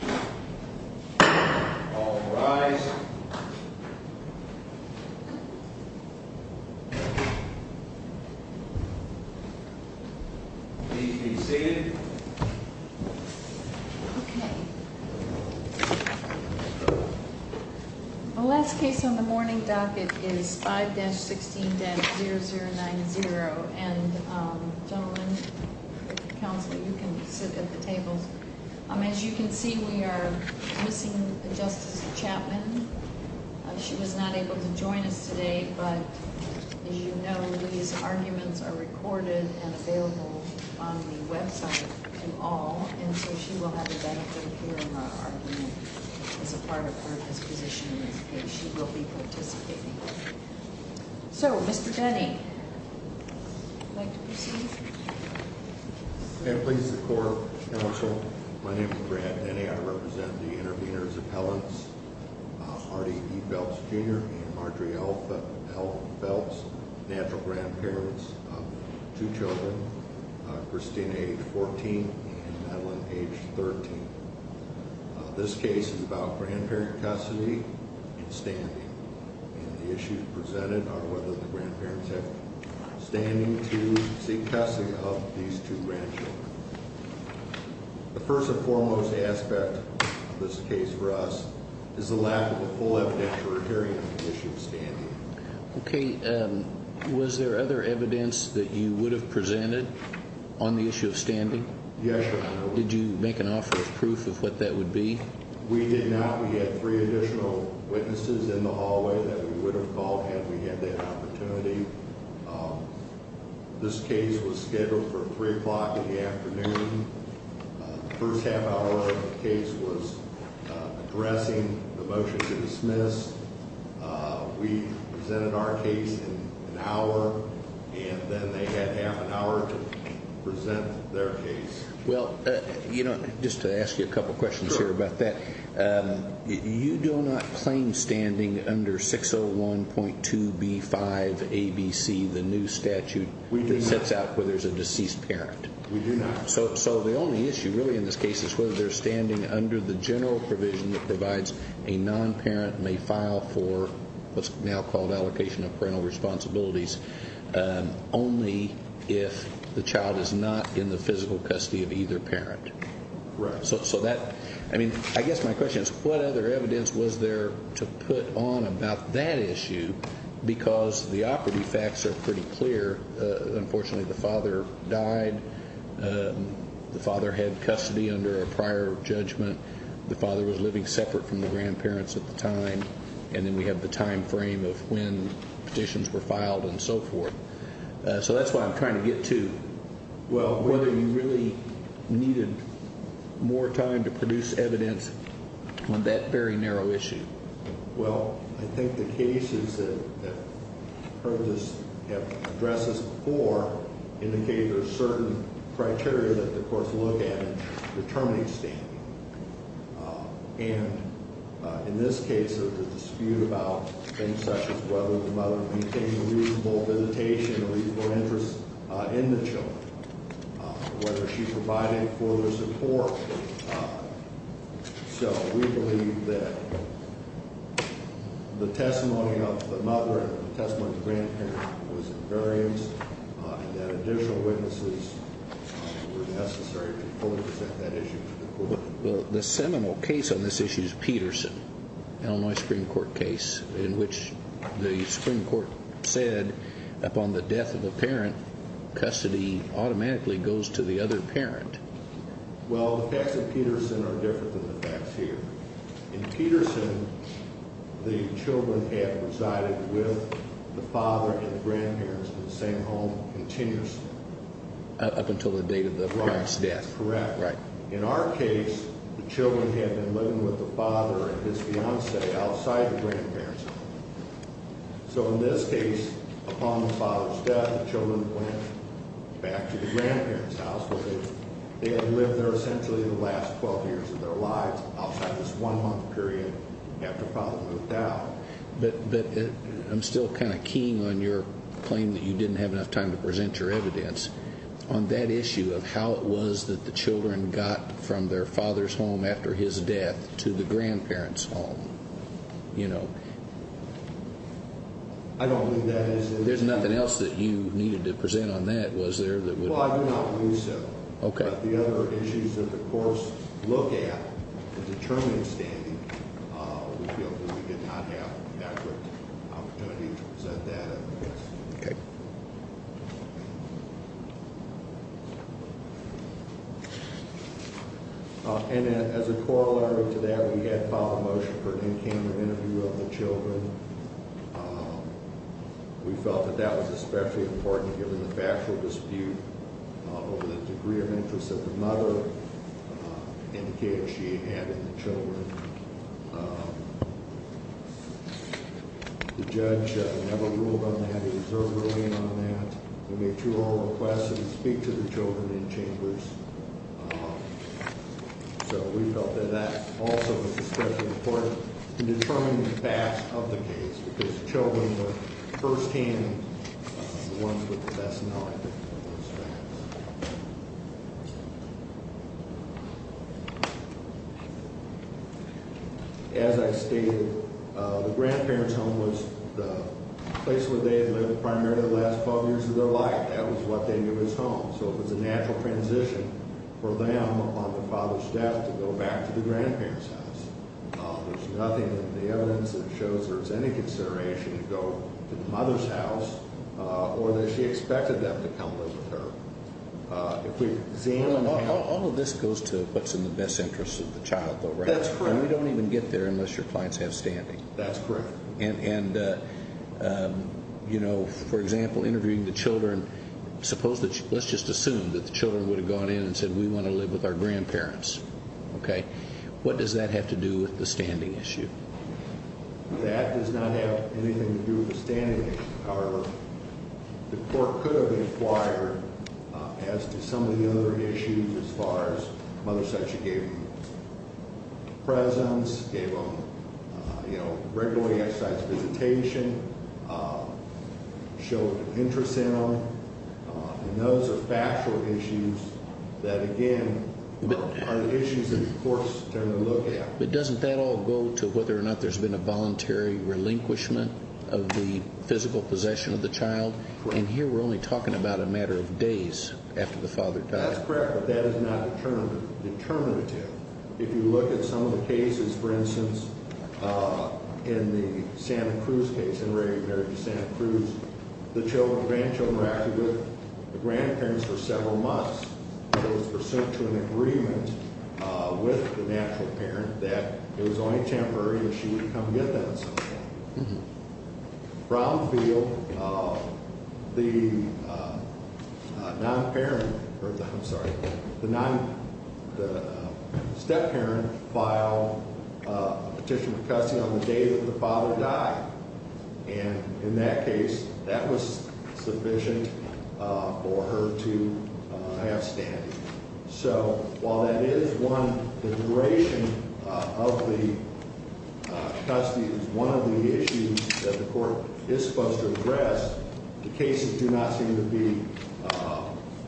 All rise Please be seated Okay The last case on the morning docket is 5-16-0090 And gentlemen, counsel, you can sit at the tables As you can see, we are missing Justice Chapman She was not able to join us today But as you know, these arguments are recorded and available on the website to all And so she will have a benefit here in her argument as a part of her disposition in this case She will be participating So, Mr. Denny, would you like to proceed? May it please the court, counsel, my name is Brad Denny I represent the intervenors appellants Hardy E. Phelps Jr. and Audrey L. Phelps Natural grandparents of two children, Christina, age 14, and Madeline, age 13 This case is about grandparent custody and standing And the issues presented are whether the grandparents have standing to seek custody of these two grandchildren The first and foremost aspect of this case for us is the lack of a full evidentiary hearing on the issue of standing Okay, was there other evidence that you would have presented on the issue of standing? Yes, your honor Did you make an offer of proof of what that would be? We did not, we had three additional witnesses in the hallway that we would have called had we had that opportunity This case was scheduled for 3 o'clock in the afternoon The first half hour of the case was addressing the motion to dismiss We presented our case in an hour and then they had half an hour to present their case Well, just to ask you a couple questions here about that You do not claim standing under 601.2B5ABC, the new statute that sets out whether there's a deceased parent? We do not So the only issue really in this case is whether they're standing under the general provision that provides a non-parent may file for what's now called allocation of parental responsibilities Only if the child is not in the physical custody of either parent Right So that, I mean, I guess my question is what other evidence was there to put on about that issue because the operative facts are pretty clear Unfortunately the father died, the father had custody under a prior judgment The father was living separate from the grandparents at the time And then we have the time frame of when petitions were filed and so forth So that's what I'm trying to get to Well, whether you really needed more time to produce evidence on that very narrow issue Well, I think the cases that have addressed this before indicated there's certain criteria that the courts look at in determining standing And in this case there's a dispute about things such as whether the mother became a reasonable visitation, a reasonable interest in the children Whether she provided further support So we believe that the testimony of the mother and the testimony of the grandparent was in variance And that additional witnesses were necessary to fully present that issue to the court Well, the seminal case on this issue is Peterson, Illinois Supreme Court case In which the Supreme Court said upon the death of a parent, custody automatically goes to the other parent Well, the facts of Peterson are different than the facts here In Peterson, the children had resided with the father and the grandparents in the same home continuously Up until the date of the parent's death Right, that's correct In our case, the children had been living with the father and his fiancee outside the grandparents' home So in this case, upon the father's death, the children went back to the grandparents' house Because they had lived there essentially the last 12 years of their lives outside this one month period after father moved out But I'm still kind of keen on your claim that you didn't have enough time to present your evidence On that issue of how it was that the children got from their father's home after his death to the grandparents' home I don't believe that There's nothing else that you needed to present on that, was there? Well, I do not believe so But the other issues that the courts look at to determine standing, we feel that we did not have an accurate opportunity to present that evidence Okay And as a corollary to that, we had filed a motion for an in-camera interview of the children We felt that that was especially important given the factual dispute over the degree of interest that the mother indicated she had in the children The judge never ruled on that, he reserved ruling on that We made two oral requests to speak to the children in chambers So we felt that that also was especially important in determining the facts of the case Because the children were first-hand the ones with the best knowledge of those facts As I stated, the grandparents' home was the place where they had lived primarily the last 12 years of their life That was what they knew as home So it was a natural transition for them, upon their father's death, to go back to the grandparents' house There's nothing in the evidence that shows there's any consideration to go to the mother's house or that she expected them to come live with her All of this goes to what's in the best interest of the child, though, right? That's correct And we don't even get there unless your clients have standing That's correct For example, interviewing the children, let's just assume that the children would have gone in and said, we want to live with our grandparents What does that have to do with the standing issue? That does not have anything to do with the standing issue, however The court could have inquired as to some of the other issues as far as mother said she gave them presents, gave them, you know, regular exercise visitation, showed interest in them And those are factual issues that, again, are issues that the court's going to look at But doesn't that all go to whether or not there's been a voluntary relinquishment of the physical possession of the child? And here we're only talking about a matter of days after the father died That's correct, but that is not determinative If you look at some of the cases, for instance, in the Santa Cruz case, in the regular marriage to Santa Cruz The children, the grandchildren were actually with the grandparents for several months It was pursuant to an agreement with the natural parent that it was only temporary and she would come get them sometime Brownfield, the non-parent, I'm sorry, the step-parent filed a petition for custody on the day that the father died And in that case, that was sufficient for her to have standing So while that is one, the duration of the custody is one of the issues that the court is supposed to address The cases do not seem to be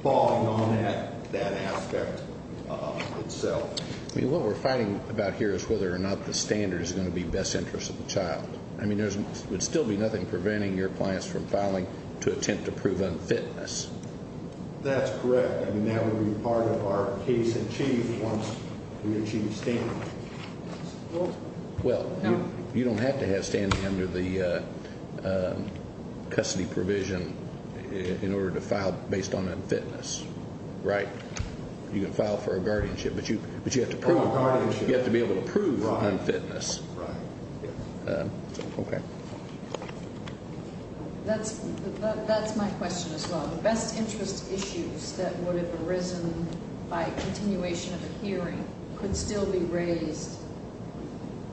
falling on that aspect itself I mean, what we're fighting about here is whether or not the standard is going to be best interest of the child I mean, there would still be nothing preventing your clients from filing to attempt to prove unfitness That's correct. I mean, that would be part of our case in chief once we achieve standing Well, you don't have to have standing under the custody provision in order to file based on unfitness, right? You can file for a guardianship, but you have to be able to prove unfitness Right, right That's my question as well The best interest issues that would have arisen by continuation of the hearing could still be raised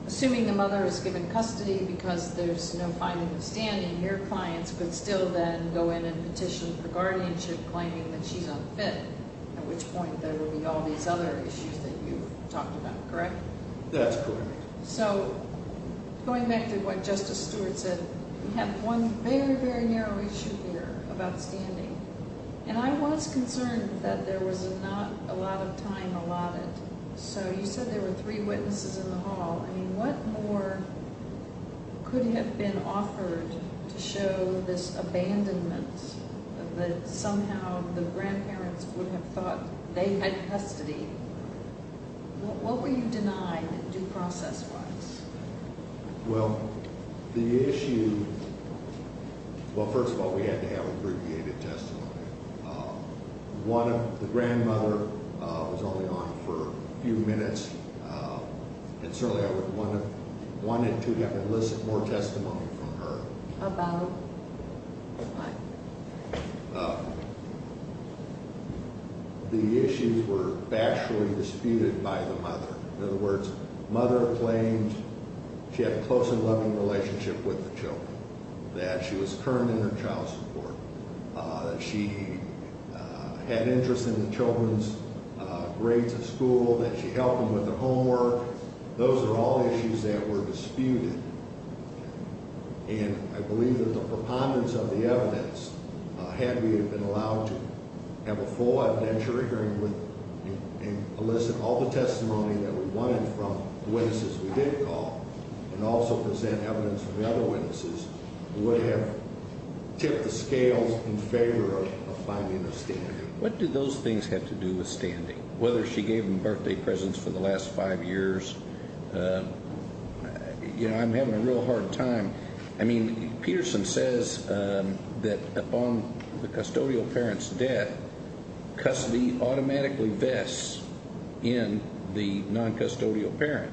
Assuming the mother is given custody because there's no finding of standing Your clients could still then go in and petition for guardianship claiming that she's unfit At which point there will be all these other issues that you've talked about, correct? That's correct So, going back to what Justice Stewart said, we have one very, very narrow issue here about standing And I was concerned that there was not a lot of time allotted So, you said there were three witnesses in the hall I mean, what more could have been offered to show this abandonment That somehow the grandparents would have thought they had custody What were you denied due process-wise? Well, the issue... Well, first of all, we had to have abbreviated testimony The grandmother was only on for a few minutes And certainly I would have wanted to have more testimony from her About what? The issues were factually disputed by the mother In other words, mother claimed she had a close and loving relationship with the children That she was current in her child support That she had interest in the children's grades at school That she helped them with their homework Those are all issues that were disputed And I believe that the preponderance of the evidence Had we been allowed to have a full evidentiary hearing And elicit all the testimony that we wanted from the witnesses we did call And also present evidence from the other witnesses Would have tipped the scales in favor of finding a standing What do those things have to do with standing? Whether she gave them birthday presents for the last five years You know, I'm having a real hard time I mean, Peterson says that upon the custodial parent's death Custody automatically vests in the non-custodial parent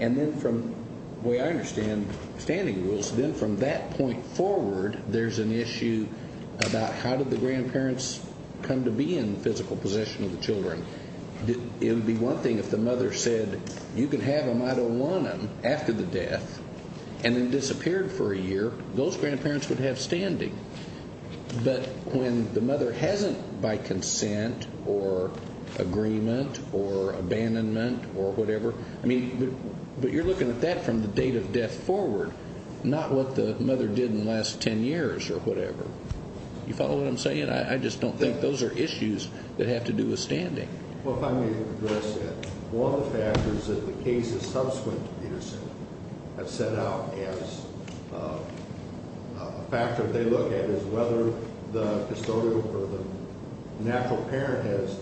And then from the way I understand standing rules Then from that point forward, there's an issue About how did the grandparents come to be in physical possession of the children? It would be one thing if the mother said You can have them, I don't want them After the death and then disappeared for a year Those grandparents would have standing But when the mother hasn't by consent Or agreement or abandonment or whatever I mean, but you're looking at that from the date of death forward Not what the mother did in the last ten years or whatever You follow what I'm saying? I just don't think those are issues that have to do with standing Well, if I may address that One of the factors that the cases subsequent to Peterson Have set out as a factor they look at Is whether the custodial or the natural parent Has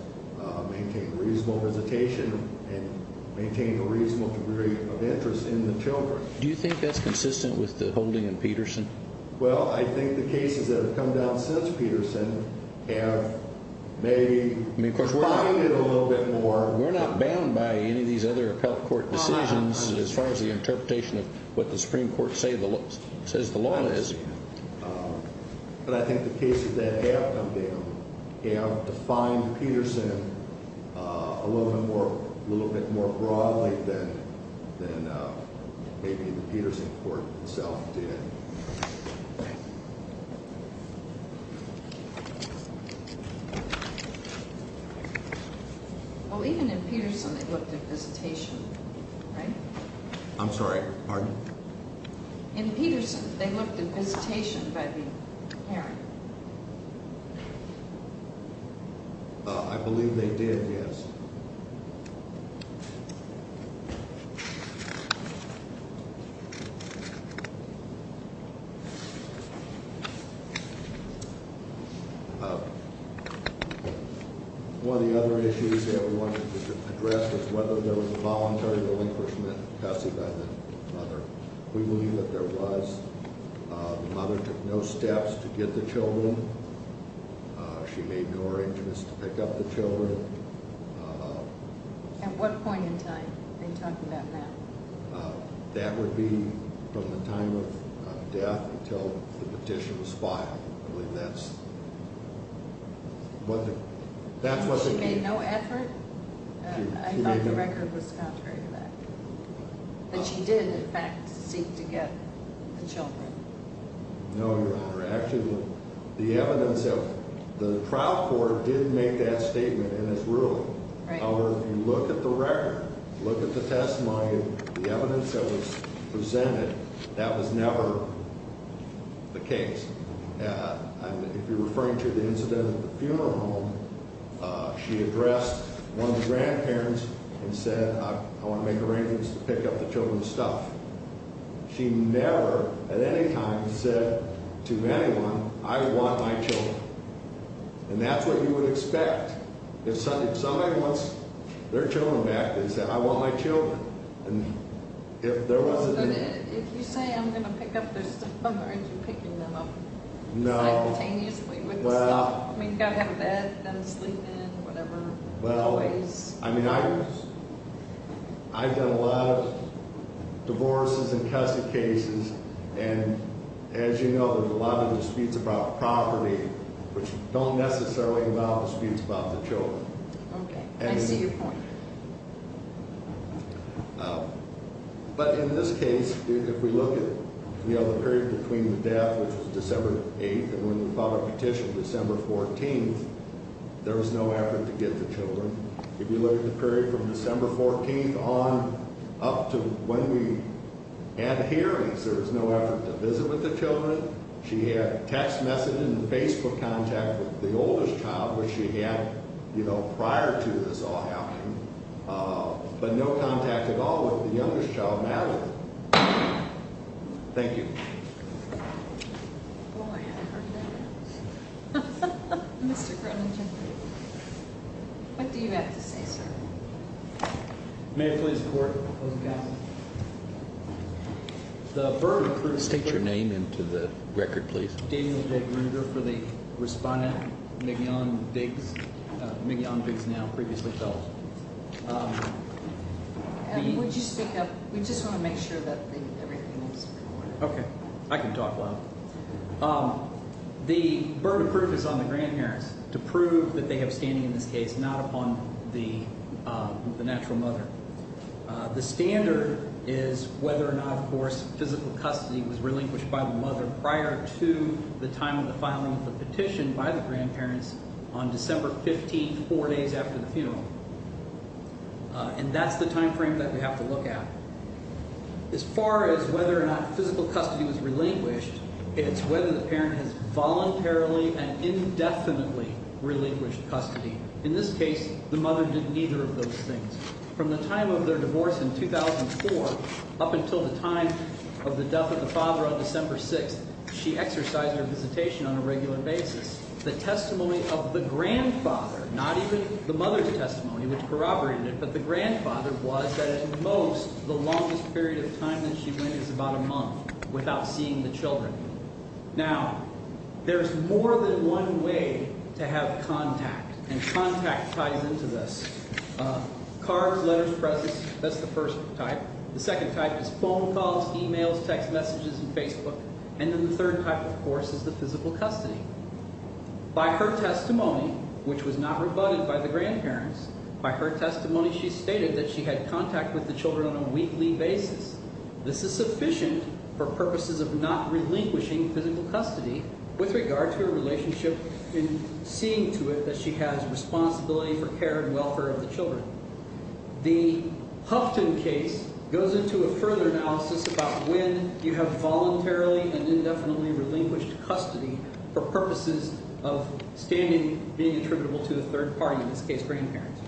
maintained reasonable hesitation And maintained a reasonable degree of interest in the children Do you think that's consistent with the holding in Peterson? Well, I think the cases that have come down since Peterson Have maybe We're not bound by any of these other appellate court decisions As far as the interpretation of what the Supreme Court says the law is But I think the cases that have come down Have defined Peterson a little bit more broadly Than maybe the Peterson court itself did Right Well, even in Peterson they looked at hesitation, right? I'm sorry, pardon? In Peterson they looked at hesitation by the parent I believe they did, yes One of the other issues that we wanted to address Was whether there was a voluntary relinquishment of custody by the mother We believe that there was The mother took no steps to get the children She made no arrangements to pick up the children At what point in time? Are you talking about now? That would be from the time of death Until the petition was filed I believe that's That's what they gave She made no effort? I thought the record was contrary to that But she did in fact seek to get the children No, Your Honor, actually The evidence of The trial court did make that statement in its ruling However, if you look at the record Look at the testimony The evidence that was presented That was never the case If you're referring to the incident at the funeral home She addressed one of the grandparents And said, I want to make arrangements to pick up the children's stuff She never at any time said to anyone I want my children And that's what you would expect If somebody wants their children back They'd say, I want my children And if there wasn't If you say I'm going to pick up their stuff Aren't you picking them up? No Simultaneously with the stuff I mean, you've got to have a bed Then sleep in, whatever Well, I mean, I I've done a lot of divorces and custody cases And as you know There's a lot of disputes about property Which don't necessarily involve disputes about the children Okay, I see your point But in this case If we look at, you know, the period between the death Which was December 8th And when we filed our petition December 14th There was no effort to get the children If you look at the period from December 14th on Up to when we had hearings There was no effort to visit with the children She had text messaging and Facebook contact with the oldest child Which she had, you know, prior to this all happening But no contact at all with the youngest child, Natalie Thank you What do you have to say, sir? May it please the Court The burden of proof State your name into the record, please Daniel J. Gruger for the respondent Migyon Biggs Migyon Biggs now, previously felt Would you speak up? We just want to make sure that everything is recorded Okay, I can talk loud The burden of proof is on the grandparents To prove that they have standing in this case Not upon the natural mother The standard is whether or not, of course Physical custody was relinquished by the mother Prior to the time of the filing of the petition by the grandparents On December 15th, four days after the funeral And that's the time frame that we have to look at As far as whether or not physical custody was relinquished It's whether the parent has voluntarily and indefinitely relinquished custody In this case, the mother did neither of those things From the time of their divorce in 2004 Up until the time of the death of the father on December 6th She exercised her visitation on a regular basis The testimony of the grandfather Not even the mother's testimony, which corroborated it But the grandfather was that at most The longest period of time that she went is about a month Without seeing the children Now, there's more than one way to have contact And contact ties into this Cards, letters, presses, that's the first type The second type is phone calls, e-mails, text messages, and Facebook And then the third type, of course, is the physical custody By her testimony, which was not rebutted by the grandparents By her testimony, she stated that she had contact with the children on a weekly basis This is sufficient for purposes of not relinquishing physical custody With regard to her relationship In seeing to it that she has responsibility for care and welfare of the children The Huffton case goes into a further analysis About when you have voluntarily and indefinitely relinquished custody For purposes of standing, being attributable to a third party In this case, grandparents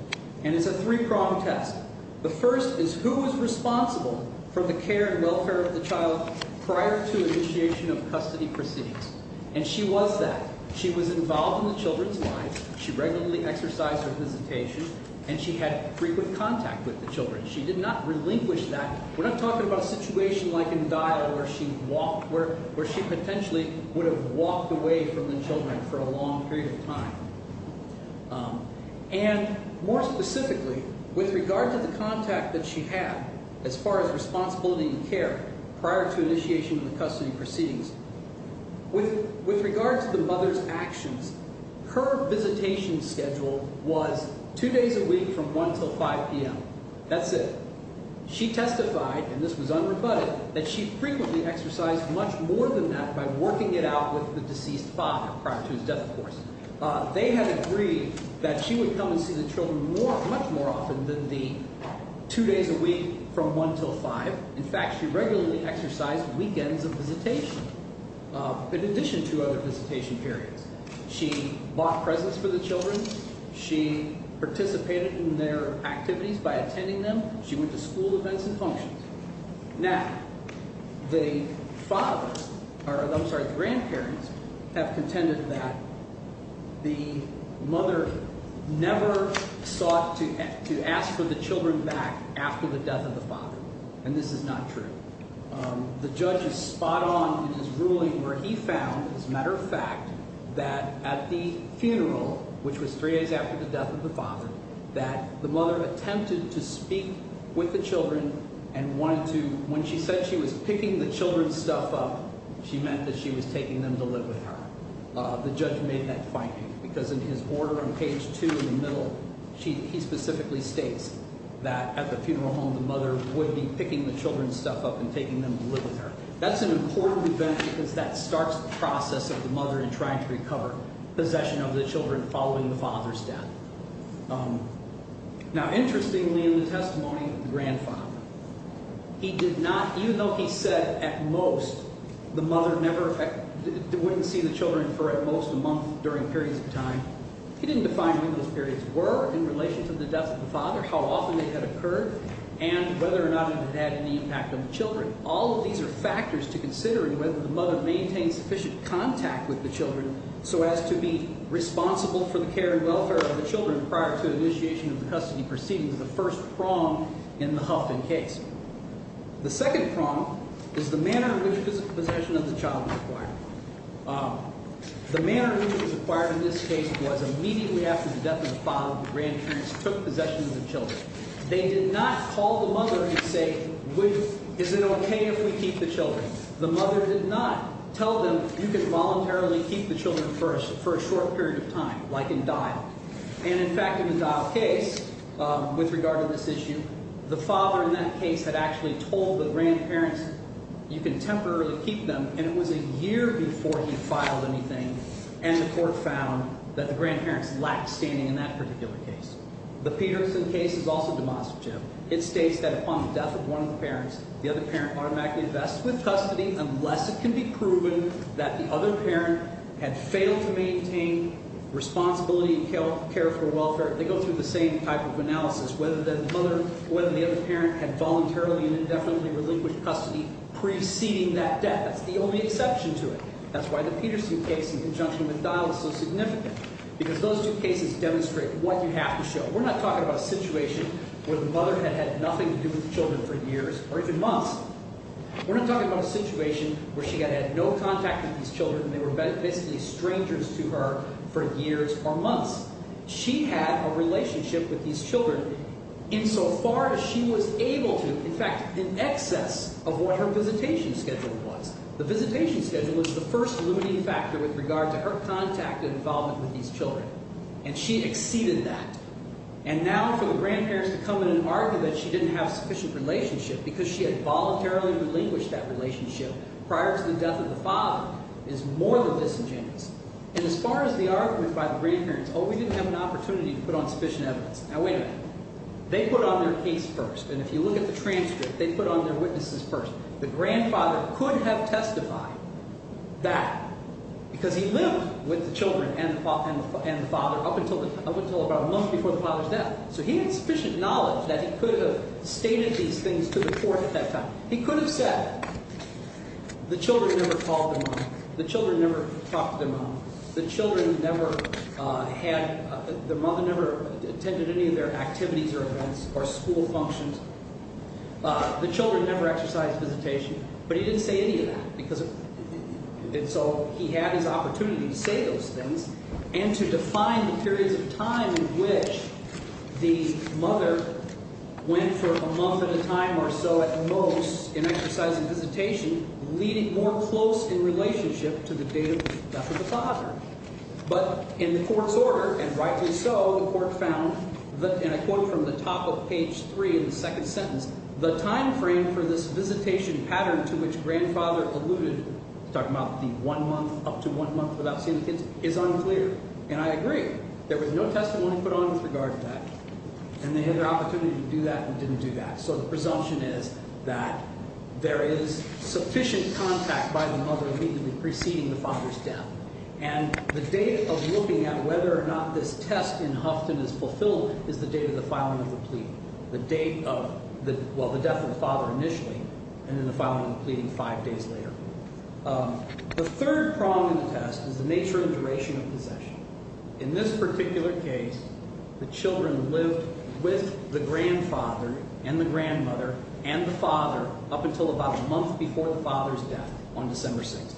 And it's a three-pronged test The first is who was responsible for the care and welfare of the child Prior to initiation of custody proceedings And she was that She was involved in the children's lives She regularly exercised her visitation And she had frequent contact with the children She did not relinquish that We're not talking about a situation like in Dial Where she potentially would have walked away from the children for a long period of time And more specifically, with regard to the contact that she had As far as responsibility and care Prior to initiation of the custody proceedings With regard to the mother's actions Her visitation schedule was two days a week from one till five p.m. That's it She testified, and this was unrebutted That she frequently exercised much more than that By working it out with the deceased father prior to his death, of course They had agreed that she would come and see the children more Much more often than the two days a week from one till five In fact, she regularly exercised weekends of visitation In addition to other visitation periods She bought presents for the children She participated in their activities by attending them She went to school events and functions Now, the father I'm sorry, the grandparents Have contended that The mother never sought to ask for the children back after the death of the father And this is not true The judge is spot on in his ruling Where he found, as a matter of fact That at the funeral, which was three days after the death of the father That the mother attempted to speak with the children And wanted to When she said she was picking the children's stuff up She meant that she was taking them to live with her The judge made that finding Because in his order on page two in the middle He specifically states that at the funeral home The mother would be picking the children's stuff up And taking them to live with her That's an important event Because that starts the process of the mother In trying to recover possession of the children Following the father's death Now, interestingly in the testimony of the grandfather He did not Even though he said at most The mother never Wouldn't see the children for at most a month During periods of time He didn't define when those periods were In relation to the death of the father How often they had occurred And whether or not it had any impact on the children All of these are factors to considering Whether the mother maintained sufficient contact with the children So as to be responsible for the care and welfare of the children Prior to initiation of the custody proceeding The first prong in the Huffman case The second prong is the manner in which Possession of the child was acquired The manner in which it was acquired in this case Was immediately after the death of the father The grandparents took possession of the children They did not call the mother and say Is it okay if we keep the children The mother did not tell them You can voluntarily keep the children first For a short period of time Like in Dial And in fact in the Dial case With regard to this issue The father in that case had actually told the grandparents You can temporarily keep them And it was a year before he filed anything And the court found That the grandparents lacked standing in that particular case The Peterson case is also demonstrative It states that upon the death of one of the parents The other parent automatically invests with custody Unless it can be proven That the other parent had failed to maintain Responsibility and care for welfare They go through the same type of analysis Whether the other parent had voluntarily And indefinitely relinquished custody Preceding that death That's the only exception to it That's why the Peterson case In conjunction with Dial is so significant Because those two cases Demonstrate what you have to show We're not talking about a situation Where the mother had had nothing to do With the children for years Or even months We're not talking about a situation Where she had had no contact with these children And they were basically strangers to her For years or months She had a relationship with these children In so far as she was able to In fact in excess Of what her visitation schedule was The visitation schedule The visitation was the first limiting factor With regard to her contact and involvement With these children And she exceeded that And now for the grandparents to come in And argue that she didn't have a sufficient relationship Because she had voluntarily relinquished That relationship Prior to the death of the father Is more than disingenuous And as far as the argument by the grandparents Oh we didn't have an opportunity To put on sufficient evidence Now wait a minute They put on their case first And if you look at the transcript They put on their witnesses first The grandfather could have testified That Because he lived with the children And the father Up until about a month before the father's death So he had sufficient knowledge That he could have stated these things To the court at that time He could have said The children never called their mom The children never talked to their mom The children never had The mother never attended any of their activities Or events Or school functions The children never exercised visitation But he didn't say any of that Because And so he had his opportunity To say those things And to define the periods of time In which The mother Went for a month at a time or so At most In exercising visitation Leading more close in relationship To the day of the death of the father But in the court's order And rightly so The court found And I quote from the top of page three Of the second sentence The time frame for this visitation pattern To which grandfather alluded Talking about the one month Up to one month without seeing the kids Is unclear And I agree There was no testimony put on with regard to that And they had their opportunity to do that And didn't do that So the presumption is That There is sufficient contact By the mother Immediately preceding the father's death And the date of looking at Whether or not this test in Hufton Is fulfilled Is the date of the filing of the plea The date of Well, the death of the father initially And then the filing of the plea five days later The third prong in the test Is the nature and duration of possession In this particular case The children lived With the grandfather And the grandmother And the father Up until about a month before the father's death On December 6th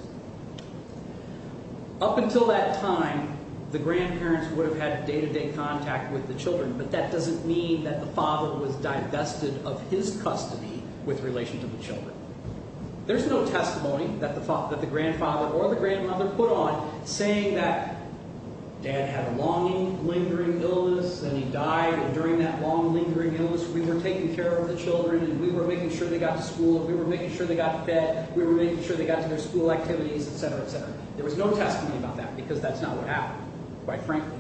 Up until that time The grandparents would have had Day-to-day contact with the children But that doesn't mean That the father was divested Of his custody With relation to the children There's no testimony That the grandfather or the grandmother Put on Saying that Dad had a long lingering illness And he died And during that long lingering illness We were taking care of the children And we were making sure They got to school And we were making sure They got to bed We were making sure They got to their school activities Et cetera, et cetera There was no testimony about that Because that's not what happened Quite frankly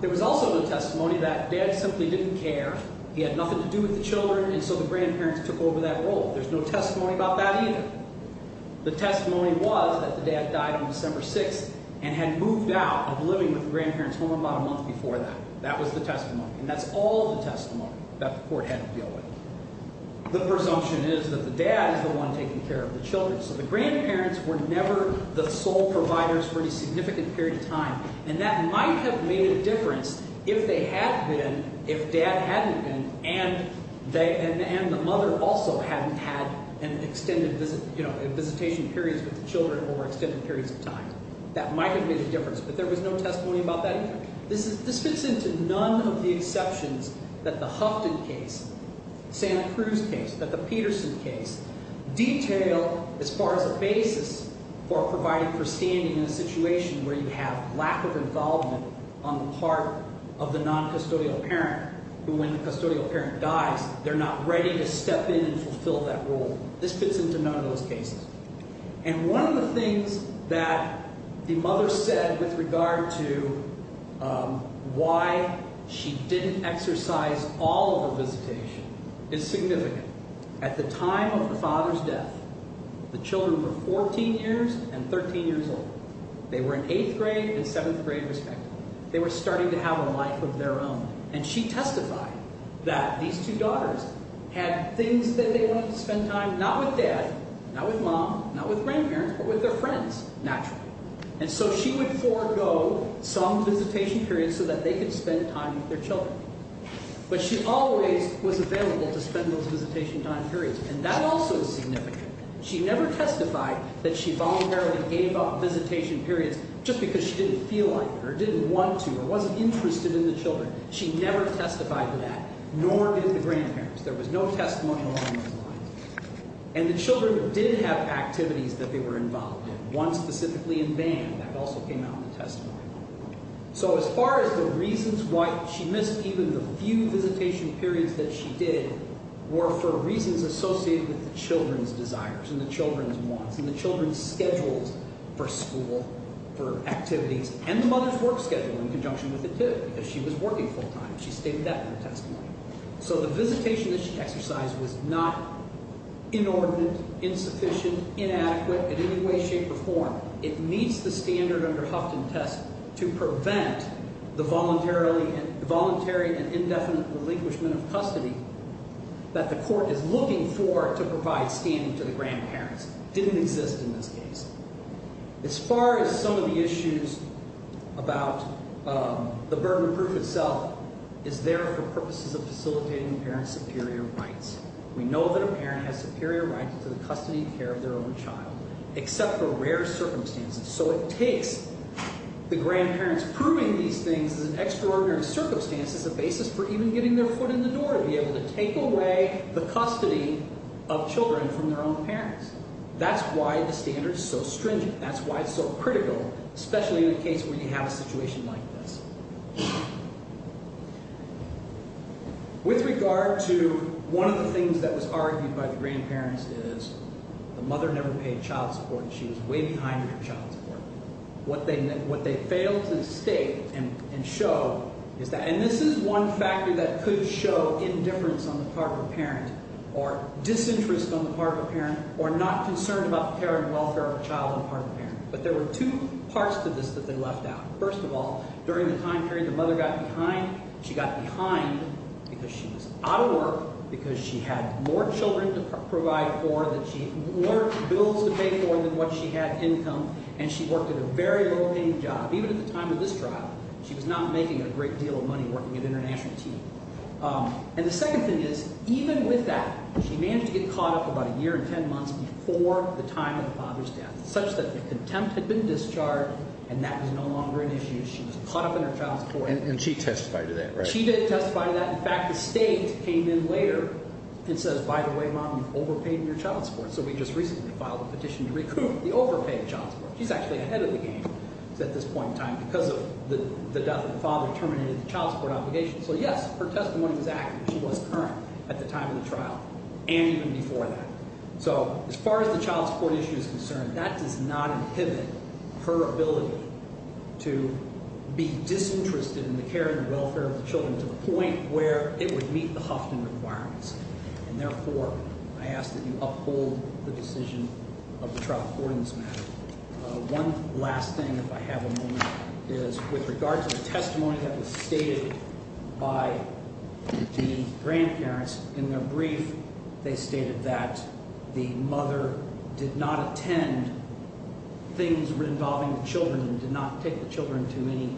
There was also no testimony That dad simply didn't care He had nothing to do with the children And so the grandparents Took over that role There's no testimony about that either The testimony was That the dad died on December 6th And had moved out Of living with the grandparents Home about a month before that That was the testimony And that's all the testimony That the court had to deal with That the dad is the one Taking care of the children So the grandparents Were never the sole providers For any significant period of time And that might have made a difference If they had been If dad hadn't been And the mother also hadn't had An extended visit You know, visitation periods With the children Or extended periods of time That might have made a difference But there was no testimony about that either This fits into none of the exceptions That the Huffton case Santa Cruz case That the Peterson case Detail as far as a basis For providing for standing In a situation where you have Lack of involvement On the part of the non-custodial parent When the custodial parent dies They're not ready to step in And fulfill that role This fits into none of those cases And one of the things That the mother said With regard to Why she didn't exercise All of her visitation Is significant At the time of the father's death The children were 14 years And 13 years old They were in 8th grade And 7th grade respectively They were starting to have A life of their own And she testified That these two daughters Had things that they wanted to spend time Not with dad Not with mom Not with grandparents But with their friends, naturally And so she would forego Some visitation periods So that they could spend time With their children But she always was available To spend those visitation time periods And that also is significant She never testified That she voluntarily Gave up visitation periods Just because she didn't feel like it Or didn't want to Or wasn't interested In the children She never testified to that Nor did the grandparents There was no testimony Along those lines And the children Did have activities That they were involved in One specifically in band That also came out in the testimony So as far as the reasons Why she missed Even the few visitation periods That she did Were for reasons Associated with the children's desires And the children's wants And the children's schedules For school For activities And the mother's work schedule In conjunction with it too Because she was working full time She stated that in the testimony So the visitation that she exercised Was not inordinate Insufficient Inadequate In any way, shape, or form It meets the standard Under Huffington test To prevent The voluntary and indefinite Relinquishment of custody That the court is looking for To provide standing To the grandparents Didn't exist in this case As far as some of the issues About The burden of proof itself Is there for purposes Of facilitating Parents' superior rights We know that a parent Has superior rights To the custody and care Of their own child Except for rare circumstances So it takes The grandparents Proving these things As an extraordinary circumstance As a basis for even getting Their foot in the door To be able to take away The custody of children From their own parents That's why the standard Is so stringent That's why it's so critical Especially in a case Where you have a situation like this With regard to One of the things That was argued By the grandparents is The mother never paid Child support She was way behind In her child support What they failed to state And show Is that And this is one factor That could show Indifference on the part Of a parent Or disinterest On the part of a parent Or not concerned About the care And welfare of a child On the part of a parent But there were two parts To this that they left out First of all During the time period The mother got behind She got behind Because she was Out of work Because she had More children To provide for That she had More bills to pay for Than what she had income And she worked At a very low paying job Even at the time Of this trial She was not making A great deal of money Working at International T And the second thing is Even with that She managed to get Caught up about a year And ten months Before the time Of the father's death Such that the contempt Had been discharged And that was no longer An issue She was caught up In her child support And she testified to that Right She did testify to that In fact the state Came in later And says By the way mom You've overpaid Your child support So we just recently Filed a petition To recoup The overpaid child support She's actually Ahead of the game At this point in time Because of the death Of the father Terminated the child Support obligation So yes Her testimony was accurate She was current At the time of the trial And even before that So as far as The child support issue Is concerned That does not inhibit Her ability To be disinterested In the care And welfare Of the children To the point Where it would meet The Huffington requirements And therefore I ask that you Uphold the decision Of the trial According to this matter One last thing If I have a moment Is with regard To the testimony That was stated By the grandparents In their brief They stated that The mother did not attend Things involving the children And did not take the children To any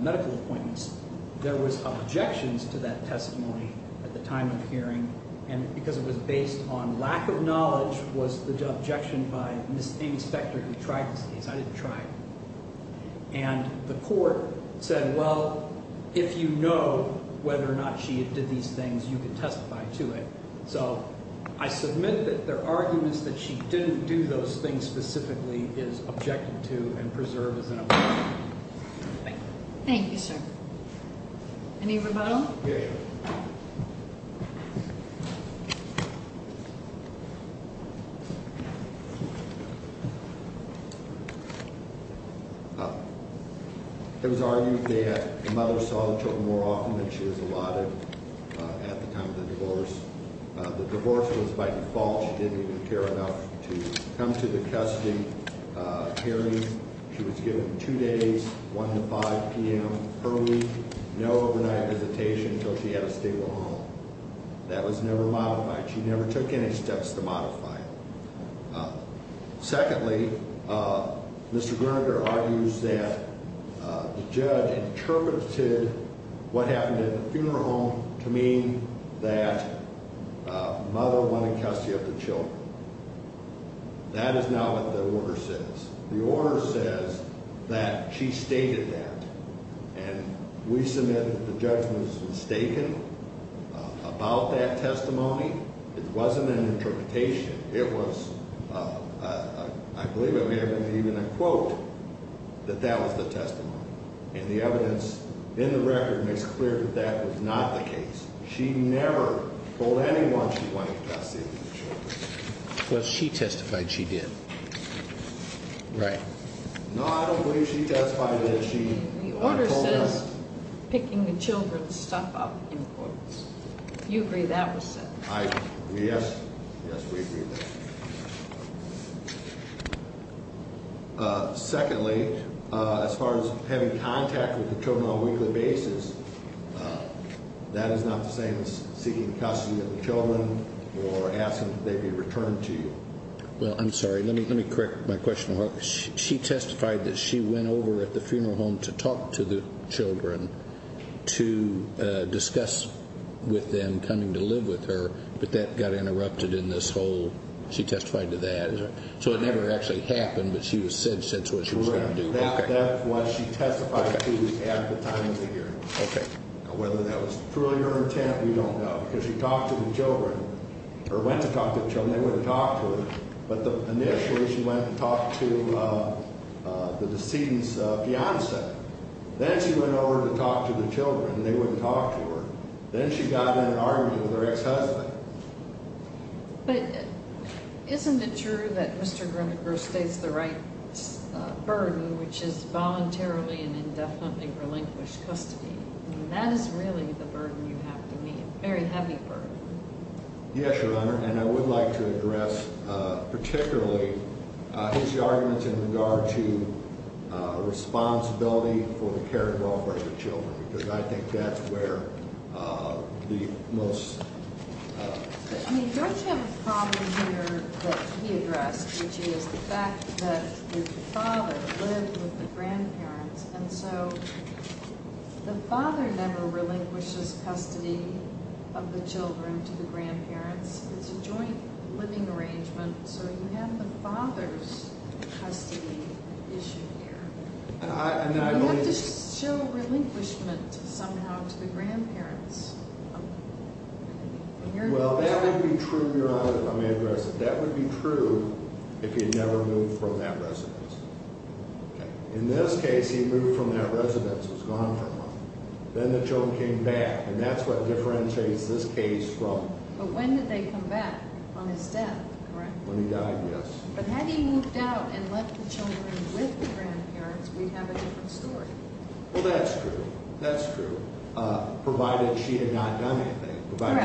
medical appointments There was objections To that testimony At the time of the hearing And because it was based On lack of knowledge Was the objection By Ms. Amy Spector Who tried this case I didn't try it And the court said Well, if you know Whether or not She did these things You can testify to it So I submit That there are arguments That she didn't do those things Specifically as objected to And preserved as an objection Thank you Thank you, sir Any rebuttal? Yeah, yeah It was argued That the mother Saw the children more often Than she was allotted At the time of the divorce The divorce was by default She didn't even care enough To come to the custody Hearing She was given two days One to five p.m. Early No overnight visitation Until she had a stable home That was never modified She never took any steps To modify it Secondly Mr. Groninger argues That the judge interpreted What happened at the funeral home To mean that Mother went in custody Of the children That is not what the order says The order says That she stated that And we submit That the judgment is mistaken About that testimony It wasn't an interpretation It was I believe I may have even A quote That that was the testimony And the evidence In the record makes clear That that was not the case She never told anyone She went in custody of the children But she testified she did Right No, I don't believe she testified That she told her The order says Picking the children's stuff up In court Do you agree that was said? I agree, yes Yes, we agree with that Secondly As far as having contact With the children on a weekly basis That is not the same as Seeking custody of the children Or asking that they be returned to you Well, I'm sorry Let me correct my question She testified that she went over At the funeral home To talk to the children To discuss With them Coming to live with her But that got interrupted In this whole She testified to that So it never actually happened But she was said Since what she was going to do Correct That's what she testified to At the time of the hearing Okay Now whether that was Truly her intent We don't know Because she talked to the children Or went to talk to the children They wouldn't talk to her But initially She went to talk to The decedent's fiance Then she went over To talk to the children They wouldn't talk to her Then she got in an argument With her ex-husband But isn't it true That Mr. Grimmaker Stays the right burden Which is voluntarily And indefinitely relinquished custody And that is really The burden you have to meet A very heavy burden Yes, Your Honor And I would like to address Particularly His arguments in regard to Responsibility For the care and welfare Of the children Because I think that's where The most I mean, don't you have a problem Here that he addressed Which is the fact that Your father lived with the grandparents And so The father never relinquishes Custody of the children To the grandparents It's a joint living arrangement So you have the father's Custody issue here And you have to show Relinquishment somehow To the grandparents Well, that would be true, Your Honor If I may address it That would be true If he had never moved from that residence In this case He moved from that residence Was gone for a month Then the children came back And that's what differentiates this case from But when did they come back? On his death, correct? When he died, yes But had he moved out and left the children with the grandparents We'd have a different story Well, that's true That's true Provided she had not done anything Right,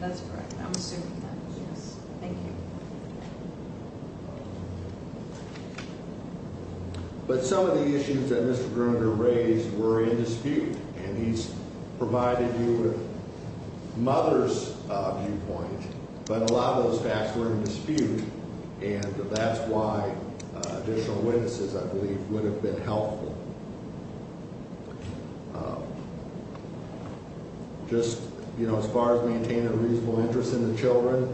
that's correct I'm assuming that, yes Thank you But some of the issues that Mr. Griminger raised were in dispute And he's provided you with Mother's Viewpoint But a lot of those facts were in dispute And that's why Additional witnesses, I believe Would have been helpful Just, you know, as far as maintaining a reasonable interest In the children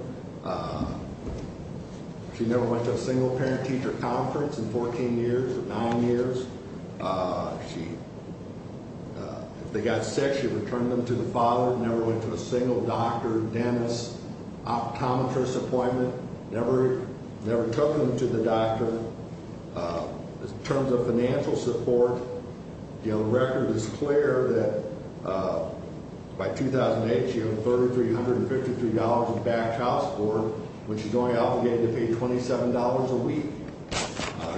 She never went to a single parent-teacher conference In 14 years or 9 years She If they got sick, she returned them To the father, never went to a single Doctor, dentist Optometrist appointment Never took them To the doctor In terms of financial support The record is clear That By 2008, she earned $3,353 in backed house board When she's only obligated to pay $27 a week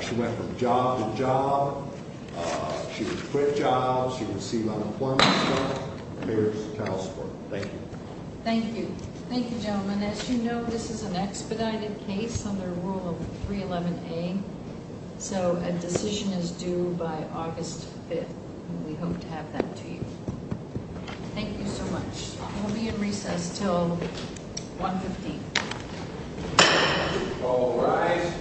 She went from job to job She was quit jobs She received unemployment Here's the house board Thank you Thank you Thank you gentlemen As you know, this is an expedited case Under rule of 311A So a decision is due by August 5th And we hope to have that to you Thank you so much We'll be in recess Till 115 All rise